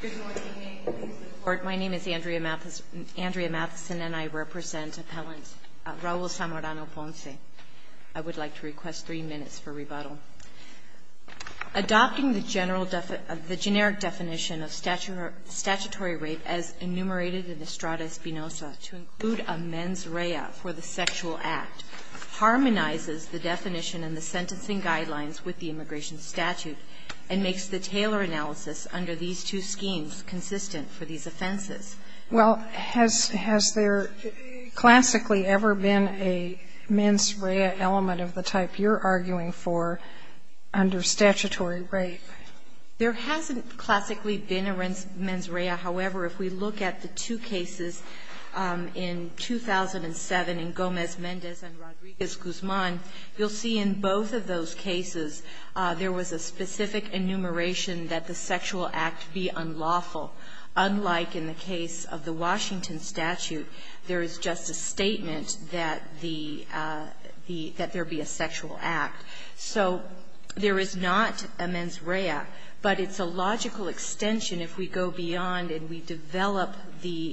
Good morning. My name is Andrea Matheson and I represent appellant Raul Zamorano-Ponce. I would like to request three minutes for rebuttal. Adopting the generic definition of statutory rape as enumerated in Estrada Espinoza to include a mens rea for the sexual act harmonizes the definition and the sentencing guidelines with the immigration statute and makes the Taylor analysis under these two schemes consistent for these offenses. Well, has there classically ever been a mens rea element of the type you're arguing for under statutory rape? There hasn't classically been a mens rea. However, if we look at the two cases in 2007 in Gomez-Mendez and Rodriguez-Guzman, you'll see in both of those cases there was a specific enumeration that the sexual act be unlawful, unlike in the case of the Washington statute, there is just a statement that the the that there be a sexual act. So there is not a mens rea, but it's a logical extension if we go beyond and we develop the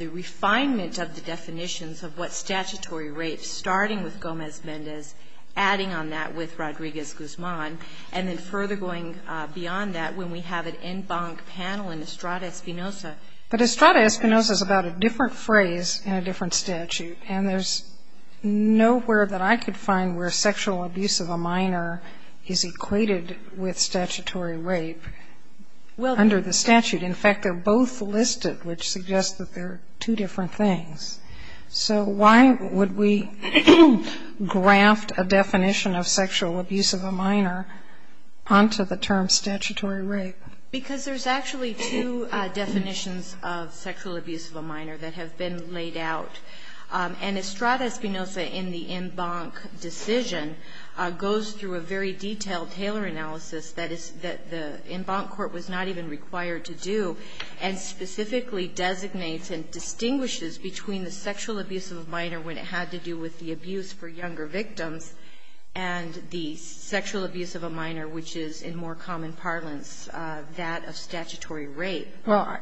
refinement of the definitions of what statutory rape, starting with Gomez-Mendez, adding on that with Rodriguez-Guzman, and then further going beyond that when we have an en banc panel in Estrada Espinoza. But Estrada Espinoza is about a different phrase in a different statute, and there's nowhere that I could find where sexual abuse of a minor is equated with statutory rape under the statute. In fact, they're both listed, which suggests that they're two different things. So why would we graft a definition of sexual abuse of a minor onto the term statutory rape? Because there's actually two definitions of sexual abuse of a minor that have been laid out. And Estrada Espinoza in the en banc decision goes through a very detailed Taylor analysis that is that the en banc court was not even required to do, and specifically designates and distinguishes between the sexual abuse of a minor when it had to do with the abuse for younger victims and the sexual abuse of a minor, which is in more common parlance that of statutory rape. Well,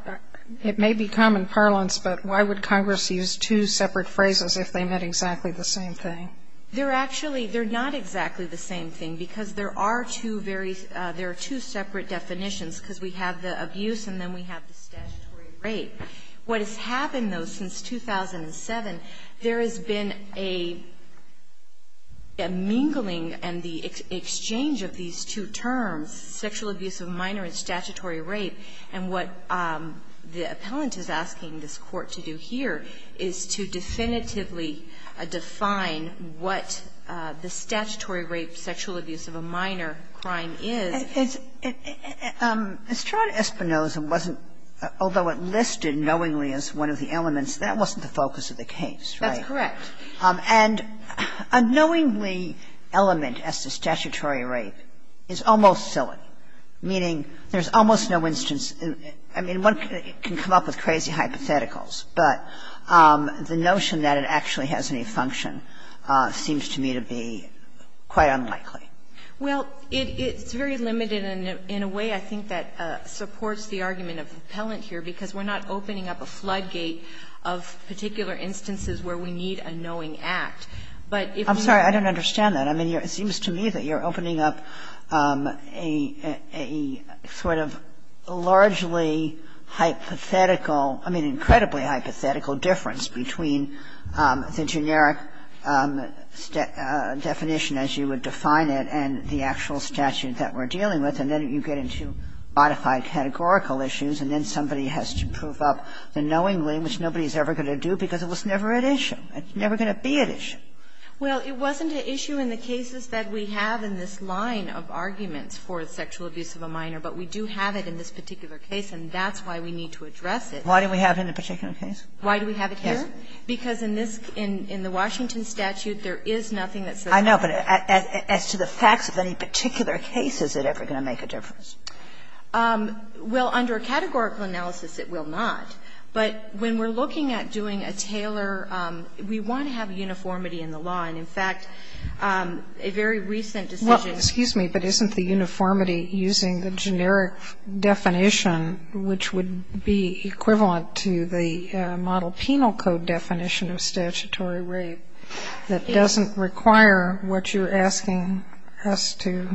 it may be common parlance, but why would Congress use two separate phrases if they meant exactly the same thing? They're actually not exactly the same thing, because there are two very – there are two separate definitions, because we have the abuse and then we have the statutory rape. What has happened, though, since 2007, there has been a mingling and the exchange of these two terms, sexual abuse of a minor and statutory rape, and what the appellant is asking this Court to do here is to definitively define what the statutory rape, sexual abuse of a minor crime is. It's – Estrada Espinoza wasn't, although it listed knowingly as one of the elements, that wasn't the focus of the case, right? That's correct. And a knowingly element as to statutory rape is almost silly, meaning there's almost no instance – I mean, one can come up with crazy hypotheticals, but the notion that it actually has any function seems to me to be quite unlikely. Well, it's very limited in a way, I think, that supports the argument of the appellant here, because we're not opening up a floodgate of particular instances where we need a knowing act. But if we're – I'm sorry. I don't understand that. I mean, it seems to me that you're opening up a sort of largely hypothetical – I mean, an incredibly hypothetical difference between the generic definition as you would define it and the actual statute that we're dealing with, and then you get into modified categorical issues, and then somebody has to prove up the knowingly, which nobody's ever going to do, because it was never at issue. It's never going to be at issue. Well, it wasn't an issue in the cases that we have in this line of arguments for sexual abuse of a minor, but we do have it in this particular case, and that's why we need to address it. Why do we have it in the particular case? Why do we have it here? Because in this – in the Washington statute, there is nothing that says that. I know, but as to the facts of any particular case, is it ever going to make a difference? Well, under a categorical analysis, it will not. But when we're looking at doing a Taylor, we want to have uniformity in the law. And, in fact, a very recent decision – Well, excuse me, but isn't the uniformity using the generic definition, which would be equivalent to the Model Penal Code definition of statutory rape, that doesn't require what you're asking us to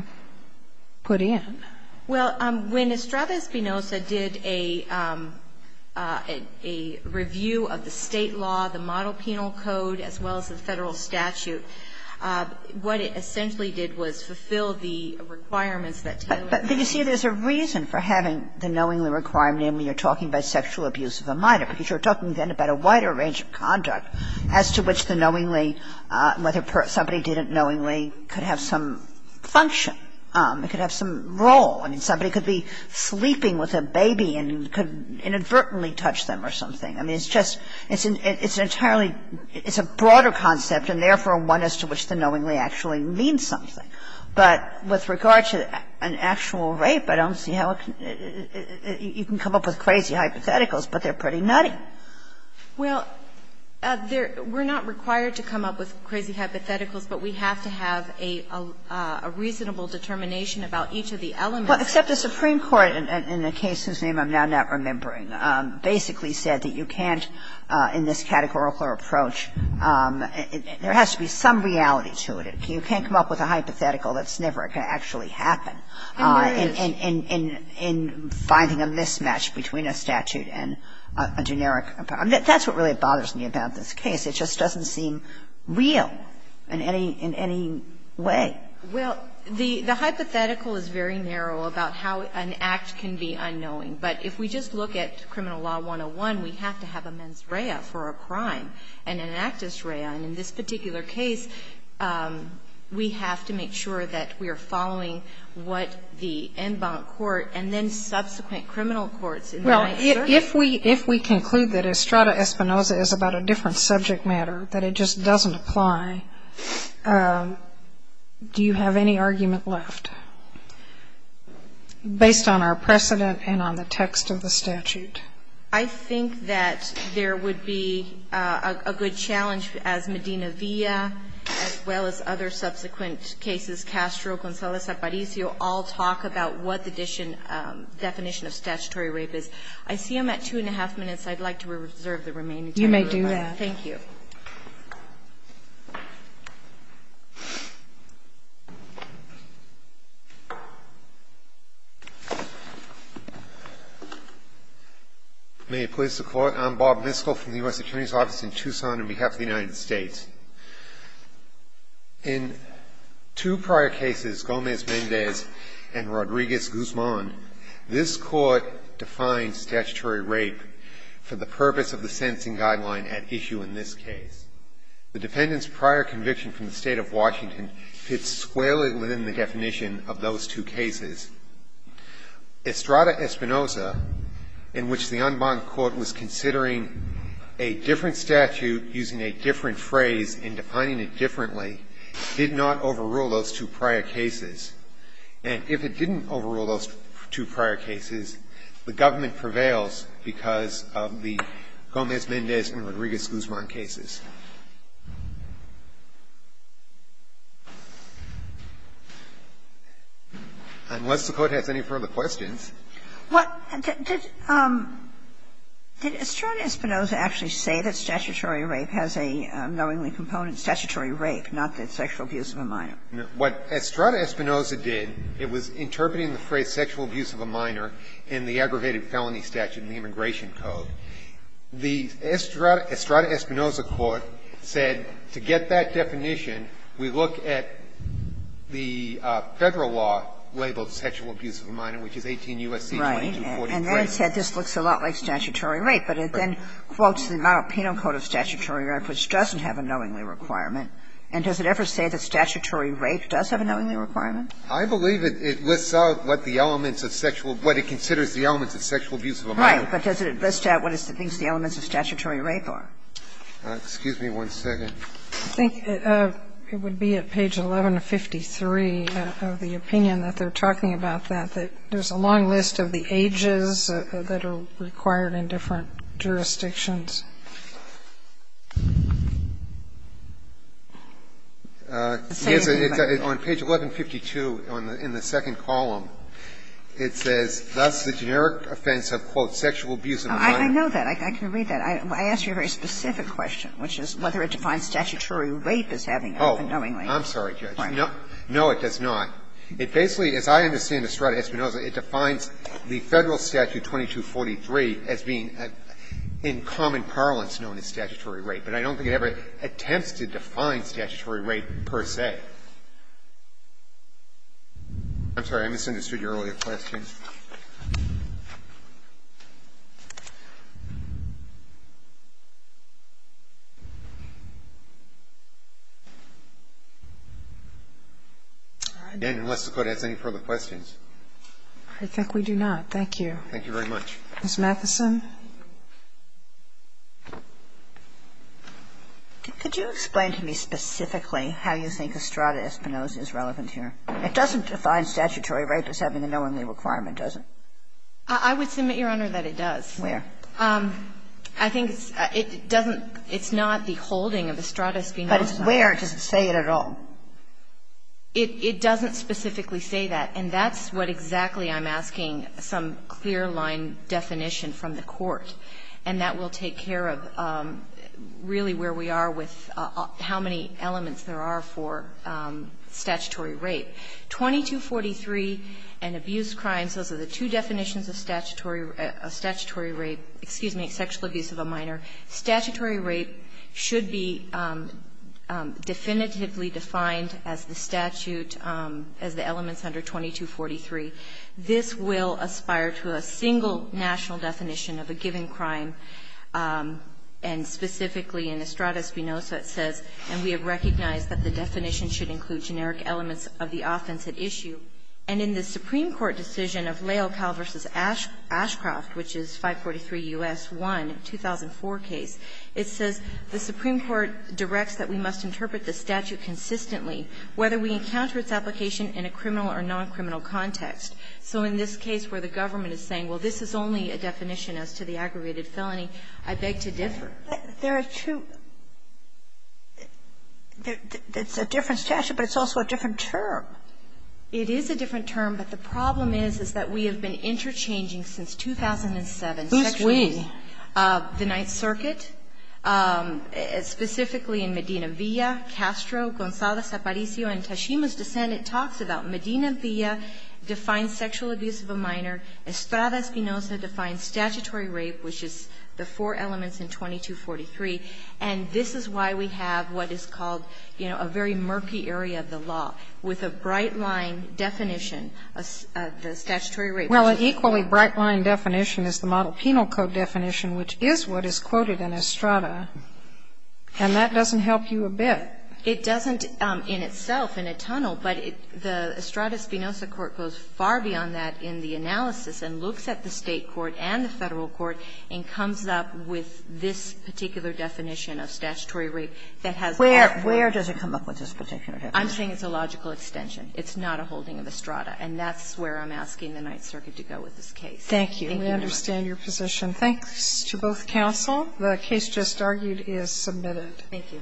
put in? Well, when Estrada Espinosa did a review of the State law, the Model Penal Code, as well as the Federal statute, what it essentially did was fulfill the requirements that Taylor had. But, you see, there's a reason for having the knowingly requirement, and you're talking about sexual abuse of a minor, because you're talking then about a wider range of conduct as to which the knowingly – whether somebody didn't knowingly could have some function. It could have some role. I mean, somebody could be sleeping with a baby and could inadvertently touch them or something. I mean, it's just – it's an entirely – it's a broader concept and, therefore, one as to which the knowingly actually means something. But with regard to an actual rape, I don't see how it can – you can come up with crazy hypotheticals, but they're pretty nutty. Well, we're not required to come up with crazy hypotheticals, but we have to have a reasonable determination about each of the elements. Well, except the Supreme Court, in a case whose name I'm now not remembering, basically said that you can't in this categorical approach – there has to be some reality to it. You can't come up with a hypothetical that's never going to actually happen. And there is. In finding a mismatch between a statute and a generic – that's what really bothers me about this case. It just doesn't seem real in any – in any way. Well, the hypothetical is very narrow about how an act can be unknowing. But if we just look at Criminal Law 101, we have to have a mens rea for a crime and an actus rea. And in this particular case, we have to make sure that we are following what the en banc court and then subsequent criminal courts in the United States. If we conclude that Estrada Espinoza is about a different subject matter, that it just doesn't apply, do you have any argument left, based on our precedent and on the text of the statute? I think that there would be a good challenge, as Medina Villa, as well as other subsequent cases, Castro, Gonzalez-Aparicio, all talk about what the definition of statutory rape is. I see I'm at two and a half minutes. I'd like to reserve the remaining time. You may do that. Thank you. May it please the Court. I'm Bob Miskell from the U.S. Securities Office in Tucson on behalf of the United States. In two prior cases, Gomez-Mendez and Rodriguez-Guzman, this Court defined that the defendant's prior conviction from the State of Washington fits squarely within the definition of those two cases. Estrada Espinoza, in which the en banc court was considering a different statute using a different phrase and defining it differently, did not overrule those two prior cases. And if it didn't overrule those two prior cases, the government permitted the defendant's prior conviction to prevail because of the Gomez-Mendez and Rodriguez-Guzman cases. Unless the Court has any further questions. What did Estrada Espinoza actually say that statutory rape has a knowingly component, statutory rape, not that sexual abuse of a minor? What Estrada Espinoza did, it was interpreting the phrase sexual abuse of a minor in the aggravated felony statute in the Immigration Code. The Estrada Espinoza court said to get that definition, we look at the Federal law labeled sexual abuse of a minor, which is 18 U.S.C. 2243. Right. And then it said this looks a lot like statutory rape, but it then quotes the Monopino Code of Statutory Rape, which doesn't have a knowingly requirement. And does it ever say that statutory rape does have a knowingly requirement? I believe it lists out what the elements of sexual – what it considers the elements of sexual abuse of a minor. Right. But does it list out what it thinks the elements of statutory rape are? Excuse me one second. I think it would be at page 1153 of the opinion that they're talking about that, that there's a long list of the ages that are required in different jurisdictions. It's on page 1152 in the second column. It says, thus, the generic offense of, quote, sexual abuse of a minor. I know that. I can read that. I asked you a very specific question, which is whether it defines statutory rape as having a knowingly requirement. Oh, I'm sorry, Judge. No, it does not. It basically, as I understand Estrada Espinoza, it defines the Federal statute 2243 as being in common parlance known as statutory rape. But I don't think it ever attempts to define statutory rape per se. I'm sorry. I misunderstood your earlier question. Again, unless the Court has any further questions. I think we do not. Thank you. Thank you very much. Ms. Matheson. Could you explain to me specifically how you think Estrada Espinoza is relevant here? It doesn't define statutory rape as having a knowingly requirement, does it? I would submit, Your Honor, that it does. Where? I think it doesn't – it's not the holding of Estrada Espinoza. But it's where. It doesn't say it at all. It doesn't specifically say that. And that's what exactly I'm asking, some clear-line definition from the Court. And that will take care of really where we are with how many elements there are for statutory rape. 2243 and abuse crimes, those are the two definitions of statutory rape – excuse me, sexual abuse of a minor. Statutory rape should be definitively defined as the statute, as the elements under 2243. This will aspire to a single national definition of a given crime. And specifically in Estrada Espinoza it says, and we have recognized that the definition should include generic elements of the offense at issue. And in the Supreme Court decision of Leopold v. Ashcroft, which is 543 U.S. 1, 2004 case, it says the Supreme Court directs that we must interpret the statute consistently whether we encounter its application in a criminal or non-criminal context. So in this case where the government is saying, well, this is only a definition as to the aggravated felony, I beg to differ. There are two – it's a different statute, but it's also a different term. It is a different term, but the problem is, is that we have been interchanging since 2007. Who's we? The Ninth Circuit, specifically in Medina Villa, Castro, Gonzaga, Zaparizio, and Tashima's dissent, it talks about Medina Villa defines sexual abuse of a minor. Estrada Espinoza defines statutory rape, which is the four elements in 2243. And this is why we have what is called, you know, a very murky area of the law, with a bright line definition of the statutory rape. Well, an equally bright line definition is the Model Penal Code definition, which is what is quoted in Estrada, and that doesn't help you a bit. It doesn't in itself, in a tunnel, but the Estrada Espinoza court goes far beyond that in the analysis and looks at the State court and the Federal court and comes up with this particular definition of statutory rape that has that definition. Where does it come up with this particular definition? I'm saying it's a logical extension. It's not a holding of Estrada. And that's where I'm asking the Ninth Circuit to go with this case. Thank you, Your Honor. We understand your position. Thanks to both counsel. The case just argued is submitted. Thank you.